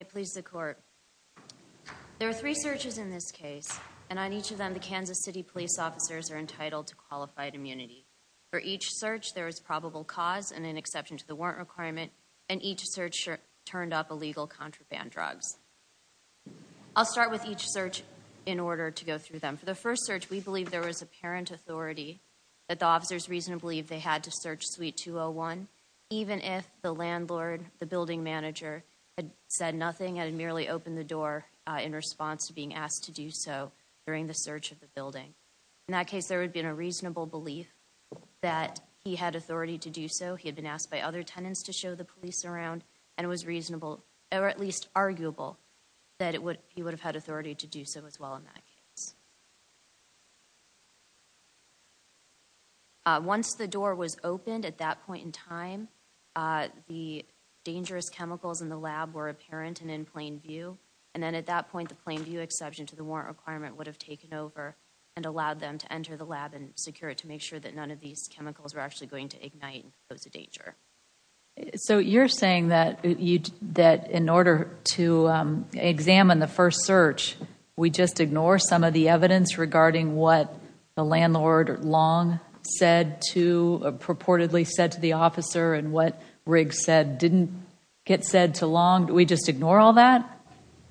I please the court. There are three searches in this case, and on each of them the Kansas City police officers are entitled to qualified immunity. For each search, there is probable cause and an exception to the warrant requirement, and each search turned up illegal contraband drugs. I'll start with each search in order to go through them. For the first search, we believe there was apparent authority that the officers reasonably believed they had to search Suite 201, even if the landlord, the building manager, had said nothing and had merely opened the door in response to being asked to do so during the search of the building. In that case, there would have been a reasonable belief that he had authority to do so. He had been asked by other tenants to show the police around, and it was reasonable, or at least arguable, that he would have had authority to do so as well in that case. Once the door was opened at that point in time, the dangerous chemicals in the lab were apparent and in plain view, and then at that point the plain view exception to the warrant requirement would have taken over and allowed them to enter the lab and secure it to make sure that none of these chemicals were actually going to ignite and pose a danger. So you're saying that in order to examine the first search, we just ignore some of the evidence regarding what the landlord Long purportedly said to the officer and what Riggs said didn't get said to Long? Do we just ignore all that?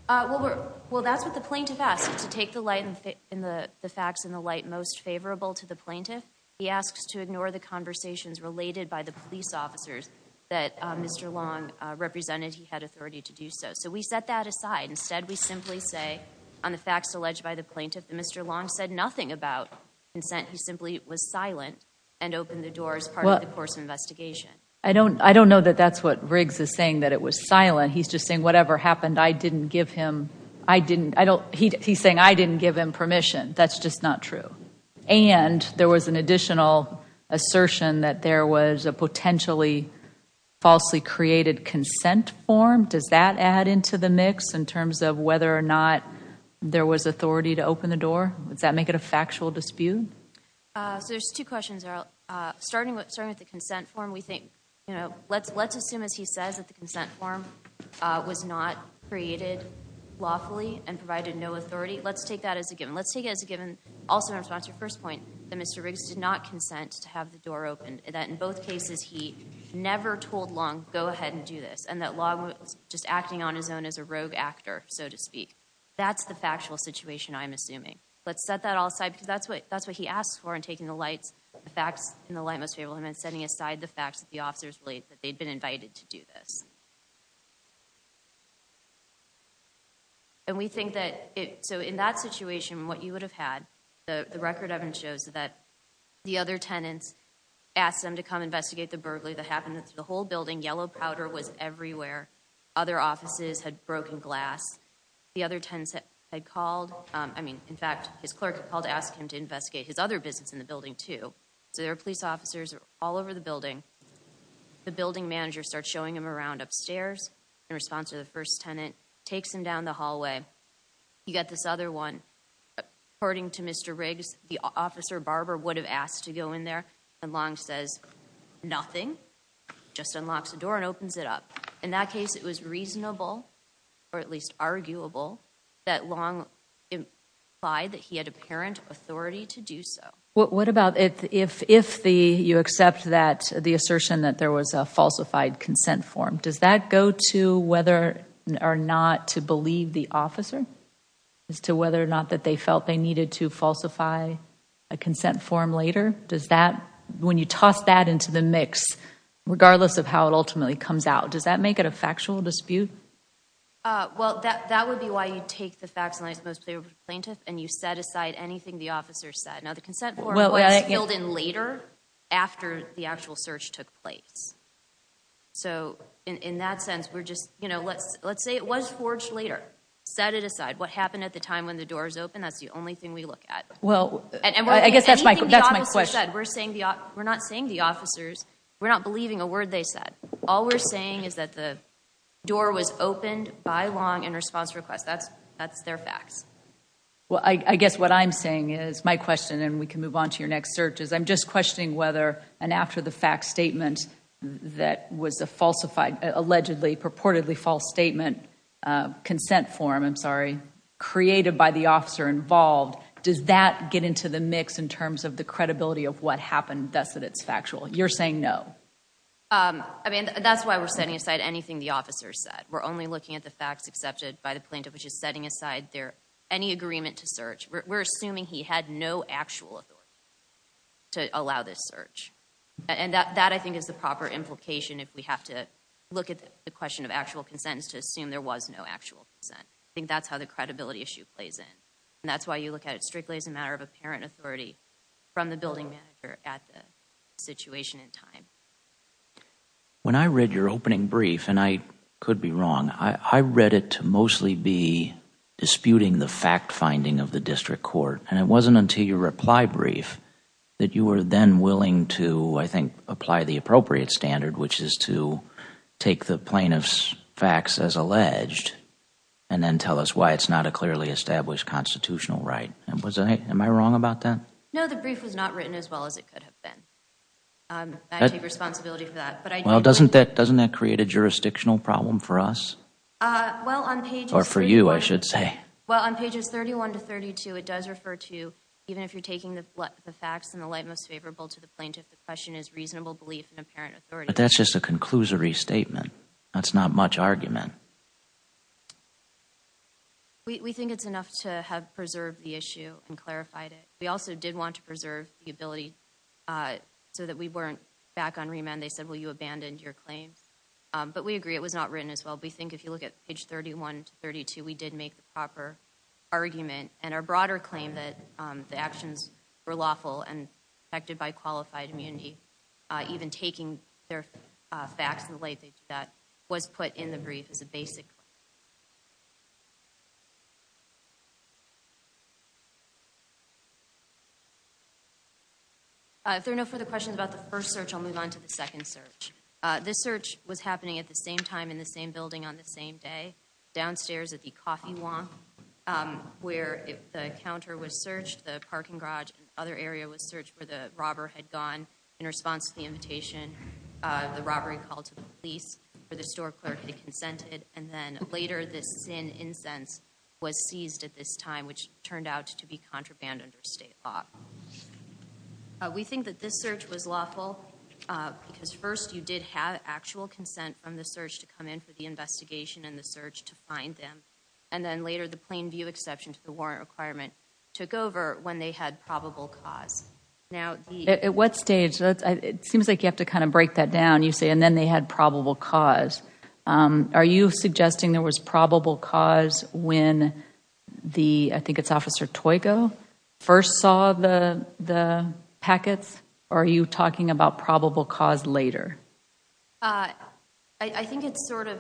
Well, that's what the plaintiff asked, to take the facts in the light most favorable to the plaintiff. He asks to ignore the conversations related by the police officers that Mr. Long represented he had authority to do so. So we set that aside. Instead, we simply say on the facts alleged by the plaintiff that Mr. Long said nothing about consent. He simply was silent and opened the door as part of the course of investigation. I don't know that that's what Riggs is saying, that it was silent. He's just saying whatever happened, I didn't give him permission. That's just not true. And there was an additional assertion that there was a potentially falsely created consent form. Does that add into the mix in terms of whether or not there was authority to open the door? Does that make it a factual dispute? So there's two questions. Starting with the consent form, let's assume, as he says, that the consent form was not created lawfully and provided no authority. Let's take that as a given. Let's take it as a given, also in response to your first point, that Mr. Riggs did not consent to have the door opened, that in both cases he never told Long, go ahead and do this, and that Long was just acting on his own as a rogue actor, so to speak. That's the factual situation, I'm assuming. Let's set that all aside, because that's what he asked for in taking the facts in the light most favorable, and then setting aside the facts that the officers believe that they'd been invited to do this. And we think that, so in that situation, what you would have had, the record evidence shows that the other tenants asked them to come investigate the burglary that happened. The whole building, yellow powder was everywhere. Other offices had broken glass. The other tenants had called. I mean, in fact, his clerk had called to ask him to investigate his other business in the building, too. So there were police officers all over the building. The building manager starts showing him around upstairs in response to the first tenant, takes him down the hallway. You got this other one. According to Mr. Riggs, the officer, Barbara, would have asked to go in there, and Long says nothing, just unlocks the door and opens it up. In that case, it was reasonable, or at least arguable, that Long implied that he had apparent authority to do so. What about if you accept the assertion that there was a falsified consent form? Does that go to whether or not to believe the officer, as to whether or not that they felt they needed to falsify a consent form later? Does that, when you toss that into the mix, regardless of how it ultimately comes out, does that make it a factual dispute? Well, that would be why you take the facts in light of the most favorable plaintiff, and you set aside anything the officer said. Now, the consent form was filled in later, after the actual search took place. So, in that sense, we're just, you know, let's say it was forged later. Set it aside. What happened at the time when the doors opened, that's the only thing we look at. Well, I guess that's my question. We're not saying the officers, we're not believing a word they said. All we're saying is that the door was opened by Long in response to a request. That's their facts. Well, I guess what I'm saying is, my question, and we can move on to your next search, is I'm just questioning whether an after-the-fact statement that was a falsified, allegedly, purportedly false statement, consent form, I'm sorry, created by the officer involved, does that get into the mix in terms of the credibility of what happened, thus that it's factual? You're saying no. I mean, that's why we're setting aside anything the officer said. We're only looking at the facts accepted by the plaintiff, which is setting aside any agreement to search. We're assuming he had no actual authority to allow this search. And that, I think, is the proper implication if we have to look at the question of actual consent is to assume there was no actual consent. I think that's how the credibility issue plays in. And that's why you look at it strictly as a matter of apparent authority from the building manager at the situation in time. When I read your opening brief, and I could be wrong, I read it to mostly be disputing the fact-finding of the district court. And it wasn't until your reply brief that you were then willing to, I think, apply the appropriate standard, which is to take the plaintiff's facts as alleged and then tell us why it's not a clearly established constitutional right. Am I wrong about that? No, the brief was not written as well as it could have been. I take responsibility for that. Well, doesn't that create a jurisdictional problem for us? Or for you, I should say. Well, on pages 31 to 32, it does refer to, even if you're taking the facts in the light most favorable to the plaintiff, the question is reasonable belief in apparent authority. But that's just a conclusory statement. That's not much argument. We think it's enough to have preserved the issue and clarified it. We also did want to preserve the ability so that we weren't back on remand. They said, well, you abandoned your claim. But we agree it was not written as well. We think if you look at page 31 to 32, we did make the proper argument. And our broader claim that the actions were lawful and protected by qualified immunity, even taking their facts in the light that was put in the brief as a basic claim. If there are no further questions about the first search, I'll move on to the second search. This search was happening at the same time in the same building on the same day, downstairs at the coffee walk, where the counter was searched, the parking garage and other area was searched, where the robber had gone in response to the invitation. The robbery called to the police, where the store clerk had consented. And then later this incense was seized at this time, which turned out to be contraband under state law. We think that this search was lawful because, first, you did have actual consent from the search to come in for the investigation and the search to find them. And then later the plain view exception to the warrant requirement took over when they had probable cause. At what stage? It seems like you have to kind of break that down. You say, and then they had probable cause. Are you suggesting there was probable cause when the, I think it's Officer Toyko, first saw the packets? Or are you talking about probable cause later? I think it's sort of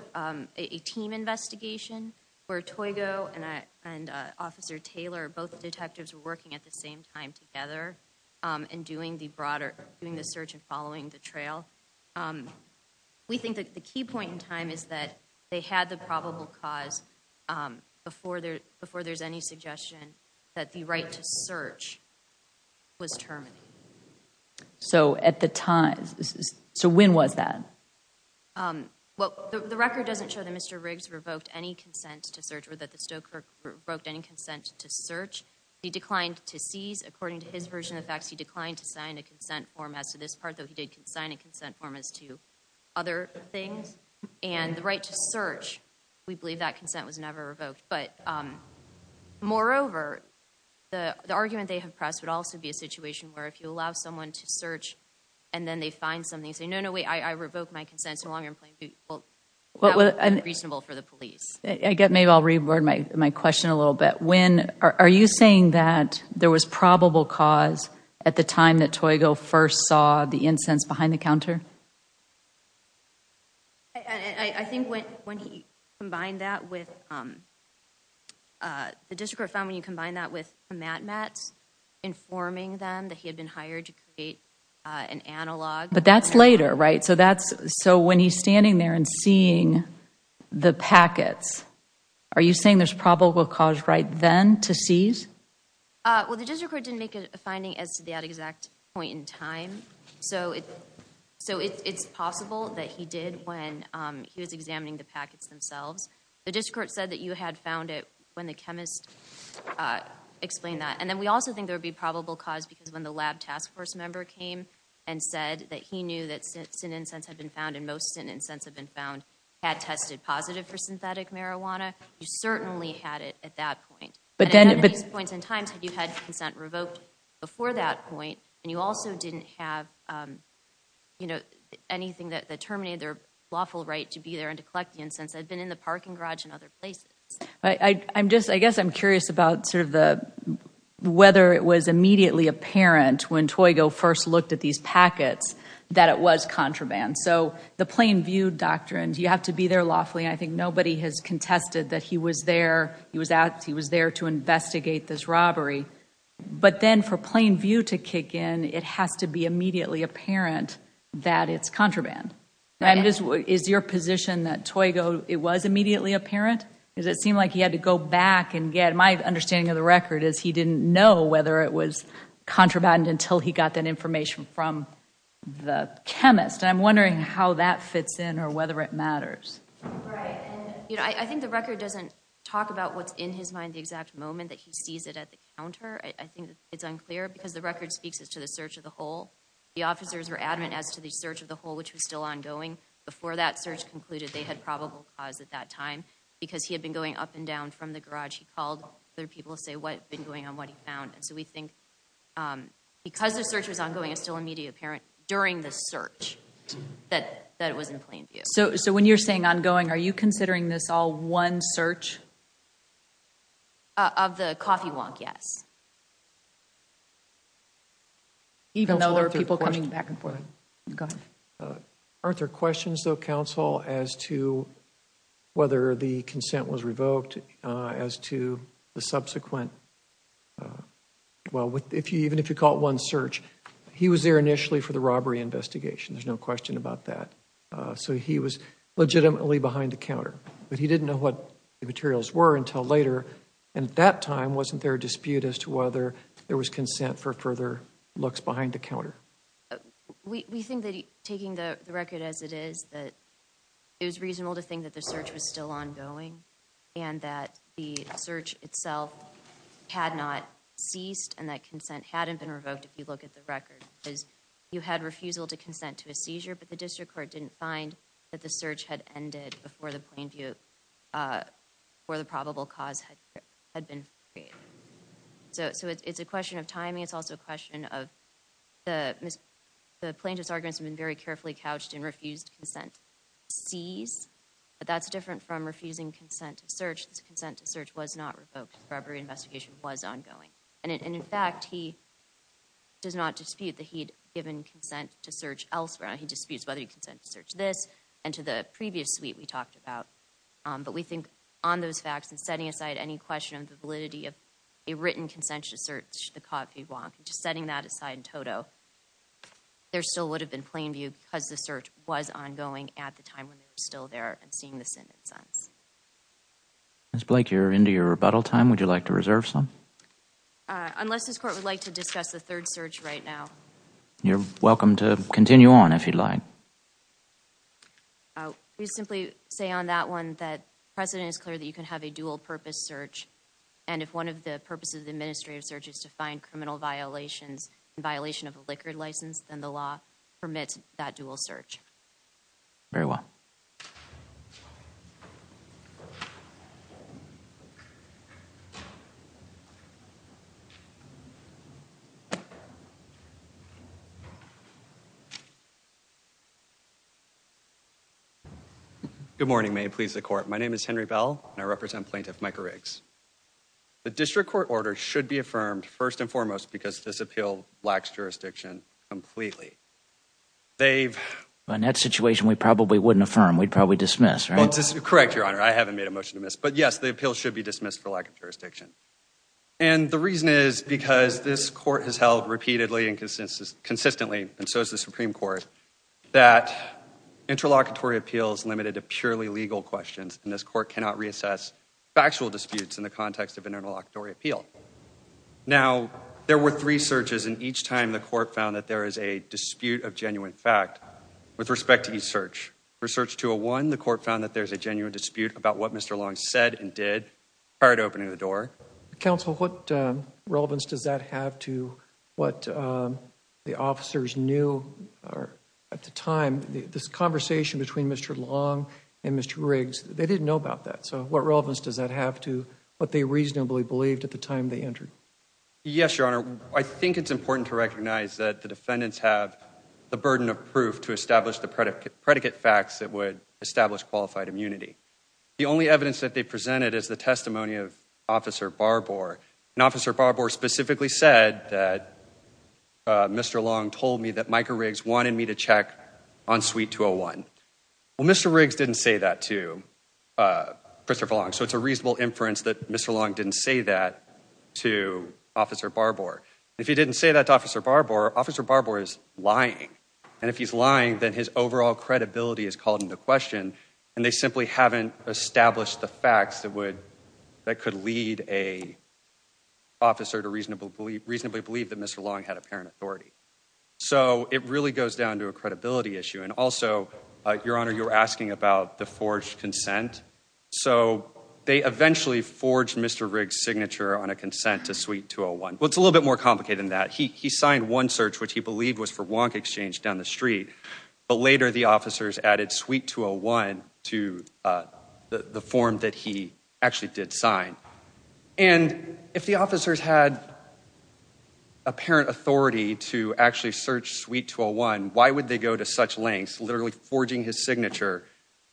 a team investigation, where Toyko and Officer Taylor, both detectives were working at the same time together and doing the search and following the trail. We think that the key point in time is that they had the probable cause before there's any suggestion that the right to search was terminated. So at the time, so when was that? Well, the record doesn't show that Mr. Riggs revoked any consent to search or that the store clerk revoked any consent to search. He declined to seize. According to his version of the facts, he declined to sign a consent form. As to this part, though, he did sign a consent form as to other things. And the right to search, we believe that consent was never revoked. But moreover, the argument they have pressed would also be a situation where if you allow someone to search and then they find something, say, no, no, wait, I revoked my consent so long ago, that would be unreasonable for the police. Maybe I'll reword my question a little bit. Are you saying that there was probable cause at the time that Toygo first saw the incense behind the counter? I think when he combined that with, the district court found when you combine that with the mat-mats, informing them that he had been hired to create an analog. But that's later, right? So when he's standing there and seeing the packets, are you saying there's probable cause right then to seize? Well, the district court didn't make a finding as to that exact point in time. So it's possible that he did when he was examining the packets themselves. The district court said that you had found it when the chemist explained that. And then we also think there would be probable cause because when the lab task force member came and said that he knew that stent incense had been found and most stent incense had been found had tested positive for synthetic marijuana, you certainly had it at that point. But at many points in time you had consent revoked before that point and you also didn't have anything that terminated their lawful right to be there and to collect the incense that had been in the parking garage and other places. I guess I'm curious about whether it was immediately apparent when Toygo first looked at these packets that it was contraband. So the plain view doctrine, do you have to be there lawfully? I think nobody has contested that he was there. He was there to investigate this robbery. But then for plain view to kick in, it has to be immediately apparent that it's contraband. Is your position that Toygo, it was immediately apparent? Because it seemed like he had to go back and get, my understanding of the record is he didn't know whether it was contraband until he got that information from the chemist. I'm wondering how that fits in or whether it matters. I think the record doesn't talk about what's in his mind the exact moment that he sees it at the counter. I think it's unclear because the record speaks to the search of the hole. The officers were adamant as to the search of the hole, which was still ongoing. Before that search concluded, they had probable cause at that time because he had been going up and down from the garage. He called other people to say what had been going on, what he found. So we think because the search was ongoing, it's still immediately apparent during the search that it was in plain view. So when you're saying ongoing, are you considering this all one search? Of the coffee wonk, yes. Even though there are people coming back and forth. Go ahead. Aren't there questions, though, counsel, as to whether the consent was revoked as to the subsequent, well, even if you call it one search, he was there initially for the robbery investigation. There's no question about that. So he was legitimately behind the counter. But he didn't know what the materials were until later. And at that time, wasn't there a dispute as to whether there was consent for further looks behind the counter? We think that taking the record as it is, that it was reasonable to think that the search was still ongoing and that the search itself had not ceased and that consent hadn't been revoked if you look at the record. You had refusal to consent to a seizure, but the district court didn't find that the search had ended before the plain view or the probable cause had been created. So it's a question of timing. It's also a question of the plaintiff's arguments have been very carefully couched in refused consent. Seize, but that's different from refusing consent to search. This consent to search was not revoked. The robbery investigation was ongoing. And in fact, he does not dispute that he'd given consent to search elsewhere. He disputes whether he consented to search this and to the previous suite we talked about. But we think on those facts and setting aside any question of the validity of a written consent to search the coffee block, just setting that aside in total, there still would have been plain view because the search was ongoing at the time when they were still there and seeing the sentence. Ms. Blake, you're into your rebuttal time. Would you like to reserve some? Unless this court would like to discuss the third search right now. You're welcome to continue on. If you'd like. Oh, you simply say on that one that president is clear that you can have a dual purpose search. And if one of the purposes of the administrative searches to find criminal violations and violation of a liquor license, then the law permits that dual search. Very well. Good morning. May it please the court. My name is Henry bell and I represent plaintiff, Michael Riggs. The district court order should be affirmed first and foremost, because this appeal lacks jurisdiction completely. They've. On that situation, we probably wouldn't affirm we'd probably dismiss. Correct. Your honor. I haven't made a motion to miss, but yes, the appeal should be dismissed for lack of jurisdiction. And the reason is because this court has held repeatedly and consistently, consistently. And so is the Supreme court. That interlocutory appeals limited to purely legal questions. And this court cannot reassess factual disputes in the context of an interlocutory appeal. Now there were three searches in each time. The court found that there is a dispute of genuine fact. With respect to each search research to a one, the court found that there's a genuine dispute about what Mr. Long said and did. Hard opening the door council. What relevance does that have to what the officers knew? At the time, this conversation between Mr. Long and Mr. Riggs, they didn't know about that. So what relevance does that have to what they reasonably believed at the time they entered? Yes, your honor. I think it's important to recognize that the defendants have the burden of proof to establish the predicate predicate facts that would establish qualified immunity. The only evidence that they presented as the testimony of officer Barbour and officer Barbour specifically said that. Mr. Long told me that Michael Riggs wanted me to check on suite two Oh one. Well, Mr. Riggs didn't say that to Christopher Long. So it's a reasonable inference that Mr. Long didn't say that to officer Barbour. If he didn't say that to officer Barbour, officer Barbour is lying. And if he's lying, then his overall credibility is called into question. And they simply haven't established the facts that would, that could lead a. Officer to reasonable belief, reasonably believe that Mr. Long had apparent authority. So it really goes down to a credibility issue. And also your honor, you were asking about the forged consent. So they eventually forged Mr. Riggs signature on a consent to suite two Oh one. Well, it's a little bit more complicated than that. He, he signed one search, which he believed was for wonk exchange down the street. But later the officers added suite two Oh one to the, the form that he actually did sign. And if the officers had. Apparent authority to actually search suite two Oh one, why would they go to such lengths? Literally forging his signature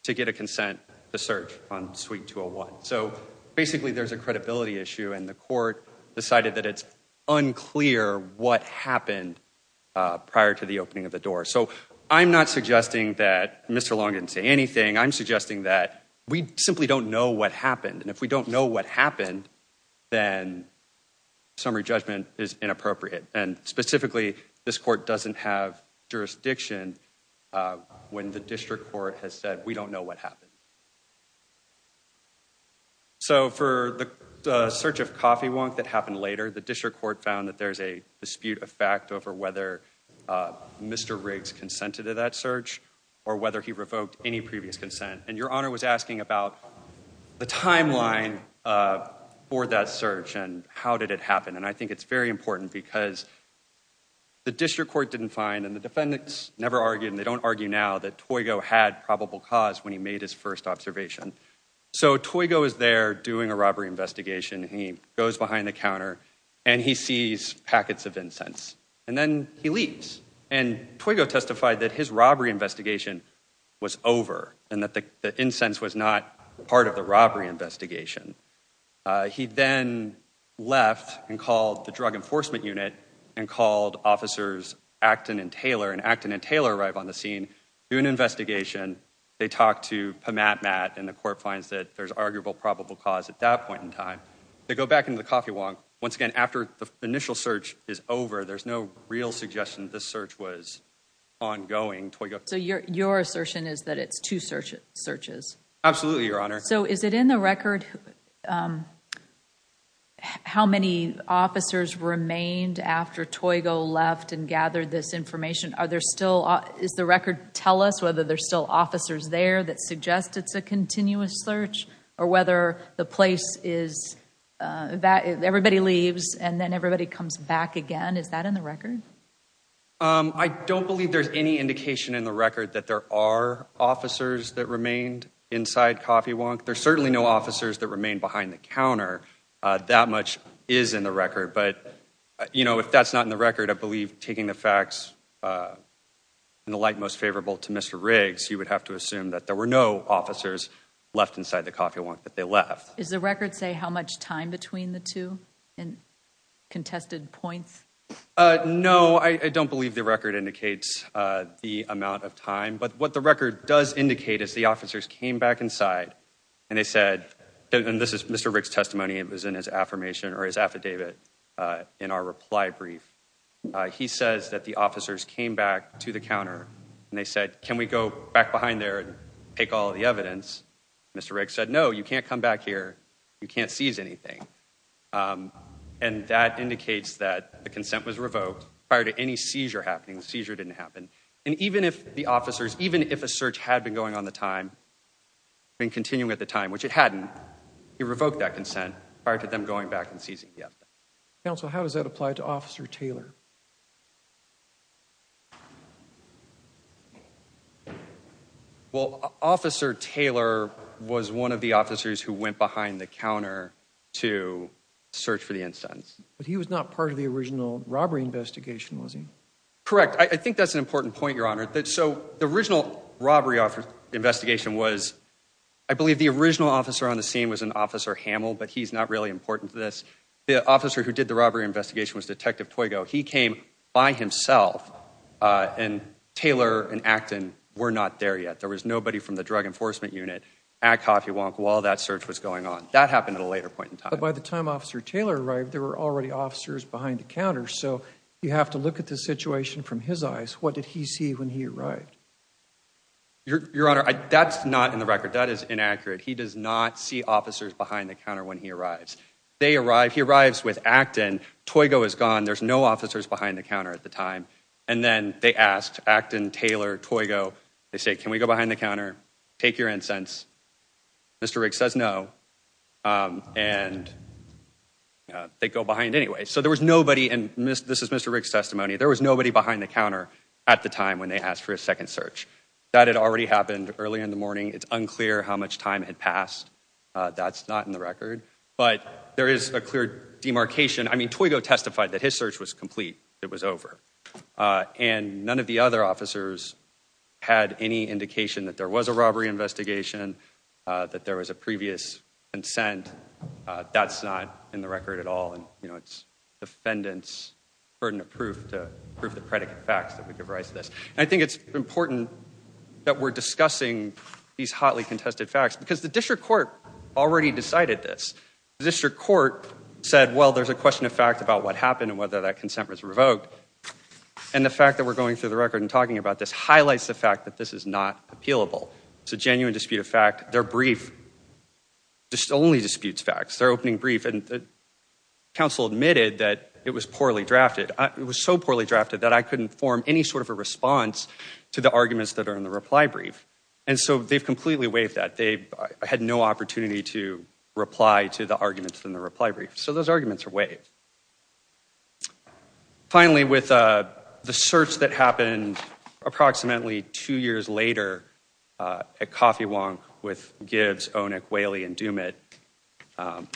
to get a consent, the search on suite two Oh one. So basically there's a credibility issue and the court decided that it's unclear what happened prior to the opening of the door. So I'm not suggesting that Mr. Long didn't say anything. I'm suggesting that we simply don't know what happened. And if we don't know what happened, then summary judgment is inappropriate. And specifically this court doesn't have jurisdiction when the district court has said, we don't know what happened. So for the search of coffee wonk that happened later, the district court found that there's a dispute, a fact over whether Mr. Riggs consented to that search or whether he revoked any previous consent. And your honor was asking about the timeline for that search and how did it happen? And I think it's very important because the district court didn't find and the defendants never argued and they don't argue now that toy go had probable cause when he made his first observation. So toy go is there doing a robbery investigation. He goes behind the counter and he sees packets of incense and then he leaves. And toy go testified that his robbery investigation was over and that the incense was not part of the robbery investigation. He then left and called the drug enforcement unit and called officers, Acton and Taylor and Acton and Taylor arrive on the scene, do an investigation. They talked to Matt, Matt and the court finds that there's arguable probable cause at that point in time, they go back into the coffee wonk once again, after the initial search is over, there's no real suggestion that this search was ongoing. So your, your assertion is that it's two searches. Absolutely. Your honor. So is it in the record? Um, how many officers remained after toy go left and gathered this information? Are there still, is the record tell us whether there's still officers there that suggest it's a continuous search or whether the place is, uh, that everybody leaves and then everybody comes back again. Is that in the record? Um, I don't believe there's any indication in the record that there are officers that remained inside coffee wonk. There's certainly no officers that remain behind the counter. Uh, that much is in the record, but you know, if that's not in the record, I believe taking the facts, uh, and the light most favorable to Mr. Riggs, you would have to assume that there were no officers left inside the coffee wonk that they left. Is the record say how much time between the two and contested points? Uh, no, I don't believe the record indicates, uh, the amount of time, but what the record does indicate is the officers came back inside and they said, and this is Mr. Rick's testimony. It was in his affirmation or his affidavit. Uh, in our reply brief, uh, he says that the officers came back to the counter and they said, can we go back behind there and take all the evidence? Mr. Rick said, no, you can't come back here. You can't seize anything. Um, and that indicates that the consent was revoked prior to any seizure happening. The seizure didn't happen. And even if the officers, even if a search had been going on the time and continuing at the time, which it hadn't, he revoked that consent prior to them going back and seizing. Yeah. Counsel, how does that apply to officer Taylor? Well, officer Taylor was one of the officers who went behind the counter to search for the instance, but he was not part of the original robbery investigation. Was he correct? I think that's an important point. Your honor that. So the original robbery offer investigation was, I believe the original officer on the scene was an officer Hamill, but he's not really important to this. The officer who did the robbery investigation was detective Toyko. He came by himself, uh, and Taylor and Acton were not there yet. There was nobody from the drug enforcement unit at coffee wonk while that search was going on. That happened at a later point in time. By the time officer Taylor arrived, there were already officers behind the counter. So you have to look at the situation from his eyes. What did he see when he arrived? Your honor. That's not in the record. That is inaccurate. He does not see officers behind the counter. When he arrives, they arrive, he arrives with Acton. Toyko is gone. There's no officers behind the counter at the time. And then they asked Acton Taylor Toyko. They say, can we go behind the counter? Take your incense. Mr. Rick says, no. Um, and, uh, they go behind anyway. So there was nobody in Mr. This is Mr. Rick's testimony. There was nobody behind the counter at the time when they asked for a second search that had already happened early in the morning. It's unclear how much time had passed. Uh, that's not in the record, but there is a clear demarcation. I mean, Toyko testified that his search was complete. It was over. Uh, and none of the other officers had any indication that there was a robbery investigation, uh, that there was a previous consent, uh, that's not in the record at all. And, you know, it's defendants burden of proof to prove the predicate facts that we give rise to this. And I think it's important that we're discussing these hotly contested facts because the district court already decided this district court said, well, there's a question of fact about what happened and whether that consent was revoked. And the fact that we're going through the record and talking about this highlights the fact that this is not appealable. It's a genuine dispute of fact. Their brief just only disputes facts. They're opening brief. And the council admitted that it was poorly drafted. It was so poorly drafted that I couldn't form any sort of a response to the arguments that are in the reply brief. And so they've completely waived that they had no opportunity to reply to the arguments in the reply brief. So those arguments are waived finally with, uh, the search that happened approximately two years later, uh, at Coffee Wong with Gibbs, Onik, Whaley and Dumit. Um,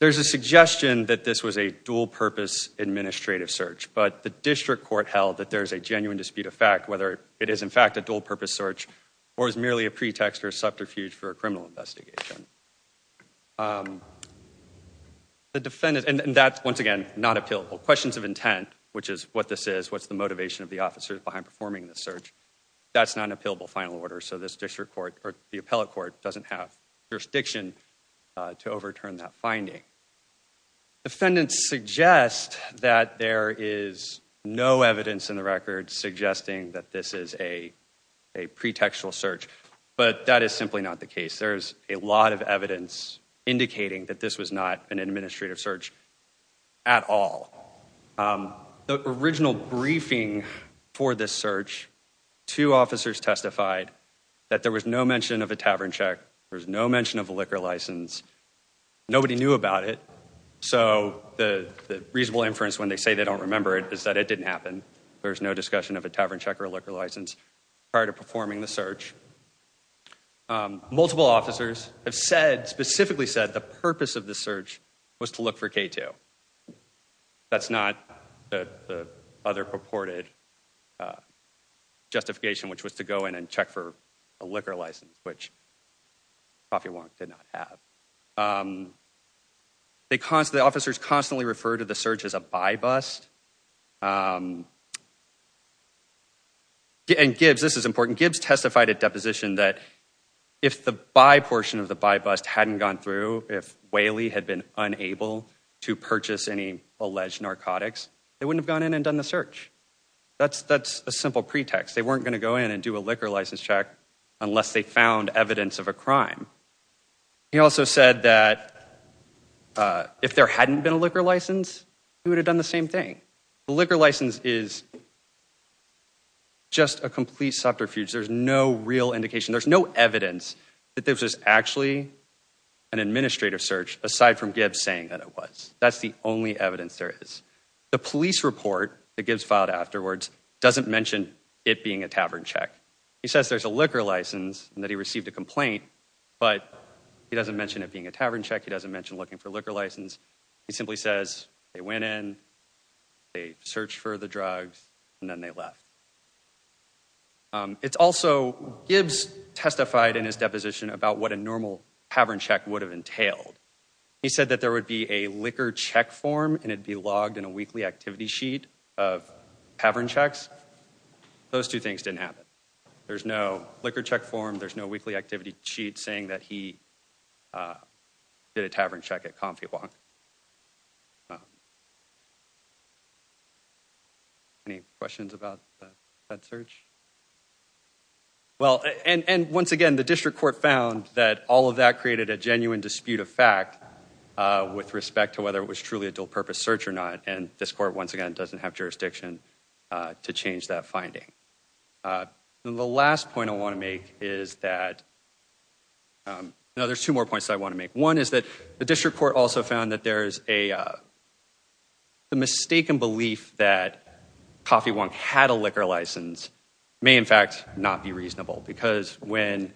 there's a suggestion that this was a dual purpose administrative search, but the district court held that there's a genuine dispute of fact, whether it is in fact a dual purpose search or is merely a pretext or subterfuge for a criminal investigation. Um, the defendant and that's once again, not appealable questions of intent, which is what this is, what's the motivation of the officers behind performing the search. That's not an appealable final order. So this district court or the appellate court doesn't have jurisdiction, uh, to overturn that finding. Defendants suggest that there is no evidence in the record suggesting that this is a, a pretextual search, but that is simply not the case. There's a lot of evidence indicating that this was not an administrative search at all. Um, the original briefing for this search, two officers testified that there was no mention of a Tavern check. There was no mention of a liquor license. Nobody knew about it. So the reasonable inference when they say they don't remember it is that it didn't happen. There was no discussion of a Tavern check or a liquor license prior to performing the search. Um, multiple officers have said specifically said the purpose of the search was to look for K2. That's not the other purported, uh, justification, which was to go in and check for a liquor license, which coffee one did not have. Um, they constantly, the officers constantly refer to the search as a buy bust. Um, and Gibbs, this is important. Gibbs testified at deposition that if the buy portion of the buy bust hadn't gone through, if Whaley had been unable to purchase any alleged narcotics, they wouldn't have gone in and done the search. That's, that's a simple pretext. They weren't going to go in and do a liquor license check unless they found evidence of a crime. He also said that, uh, if there hadn't been a liquor license, he would have done the same thing. The liquor license is just a complete subterfuge. There's no real indication. There's no evidence that there was actually an administrative search aside from Gibbs saying that it was, that's the only evidence there is. The police report that Gibbs filed afterwards doesn't mention it being a tavern check. He says there's a liquor license and that he received a complaint, but he doesn't mention it being a tavern check. He doesn't mention looking for liquor license. He simply says they went in, they searched for the drugs, and then they left. Um, Gibbs testified in his deposition about what a normal tavern check would have entailed. He said that there would be a liquor check form and it'd be logged in a weekly activity sheet of tavern checks. Those two things didn't happen. There's no liquor check form. There's no weekly activity sheet saying that he, uh, did a tavern check at comfy walk. Any questions about that search? Well, and, and once again, the district court found that all of that created a genuine dispute of fact, uh, with respect to whether it was truly a dual purpose search or not. And this court, once again, doesn't have jurisdiction, uh, to change that finding. Uh, the last point I want to make is that, um, no, there's two more points that I want to make. One is that the district court also found that there's a, uh, the mistaken belief that coffee won't had a liquor license. May in fact not be reasonable because when,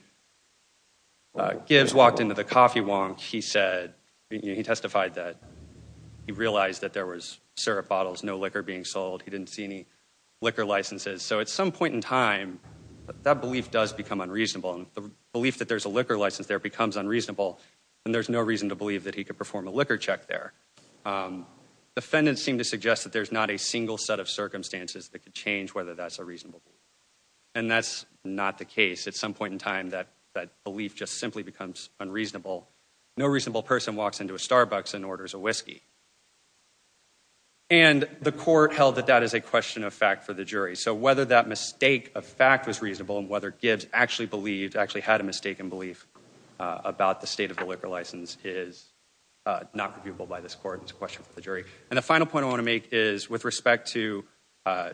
uh, Gibbs walked into the coffee wonk, he said, he testified that he realized that there was syrup bottles, no liquor being sold. He didn't see any liquor licenses. So at some point in time, that belief does become unreasonable. And the belief that there's a liquor license there becomes unreasonable. And there's no reason to believe that he could perform a liquor check there. Um, defendants seem to suggest that there's not a single set of circumstances that could change whether that's a reasonable. And that's not the case. At some point in time, that, that belief just simply becomes unreasonable. No reasonable person walks into a Starbucks and orders a whiskey. And the court held that that is a question of fact for the jury. So whether that mistake of fact was reasonable and whether Gibbs actually believed actually had a mistaken belief, uh, about the state of the liquor license is, uh, not reviewable by this court. It's a question for the jury. And the final point I want to make is with respect to, uh,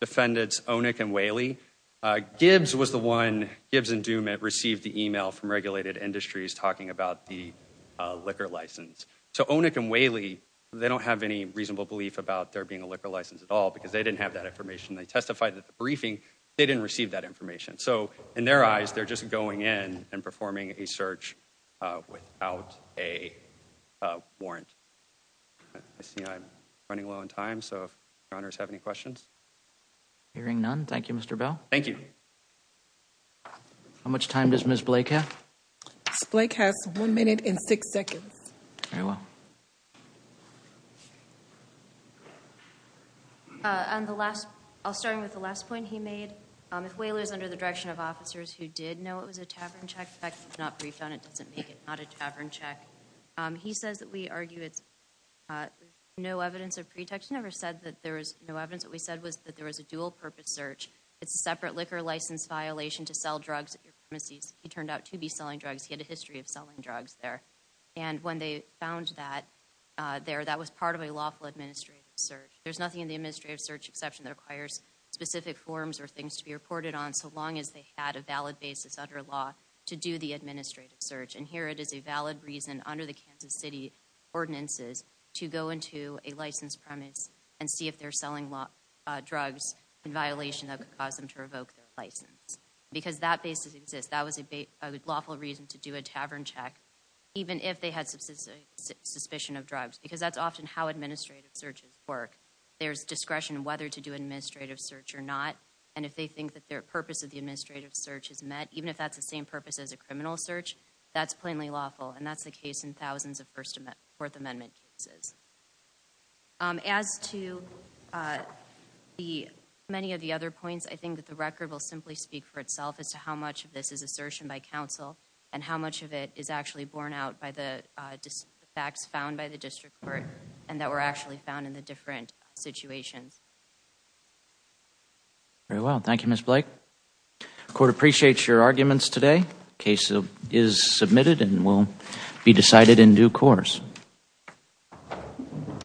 defendants, Onik and Whaley, uh, Gibbs was the one Gibbs and Dumit received the email from regulated industries talking about the, uh, liquor license. So Onik and Whaley, they don't have any reasonable belief about there being a liquor license at all, because they didn't have that information. They testified that the briefing, they didn't receive that information. So in their eyes, they're just going in and performing a search, uh, without a, uh, warrant. I see. I'm running low on time. So if your honors have any questions, Hearing none. Thank you, Mr. Bell. Thank you. How much time does Ms. Blake have? Blake has one minute and six seconds. Very well. Uh, on the last, I'll start with the last point he made. Um, if Whaley is under the direction of officers who did know it was a tavern check, not briefed on it, doesn't make it not a tavern check. Um, he says that we argue it's, uh, no evidence of pretext. He never said that there was no evidence. What we said was that there was a dual purpose search. It's a separate liquor license violation to sell drugs at your premises. He turned out to be selling drugs. He had a history of selling drugs there. And when they found that, uh, there, that was part of a lawful administrative search. There's nothing in the administrative search exception that requires specific forms or things to be reported on. So long as they had a valid basis under law to do the administrative search. And here it is a valid reason under the Kansas city ordinances to go into a licensed premise and see if they're selling law, uh, drugs in violation that could cause them to revoke their license. Because that basis exists. That was a lawful reason to do a tavern check, even if they had subsistence suspicion of drugs, because that's often how administrative searches work. There's discretion, whether to do administrative search or not. And if they think that their purpose of the administrative search is met, even if that's the same purpose as a criminal search, that's plainly lawful. And that's the case in thousands of first amendment fourth amendment cases. Um, as to, uh, the many of the other points, I think that the record will simply speak for itself as to how much of this is assertion by council and how much of it is actually borne out by the, uh, facts found by the district court and that were actually found in the different situations. Very well. Thank you, Ms. Blake court appreciates your arguments today. Case is submitted and will be decided in due course.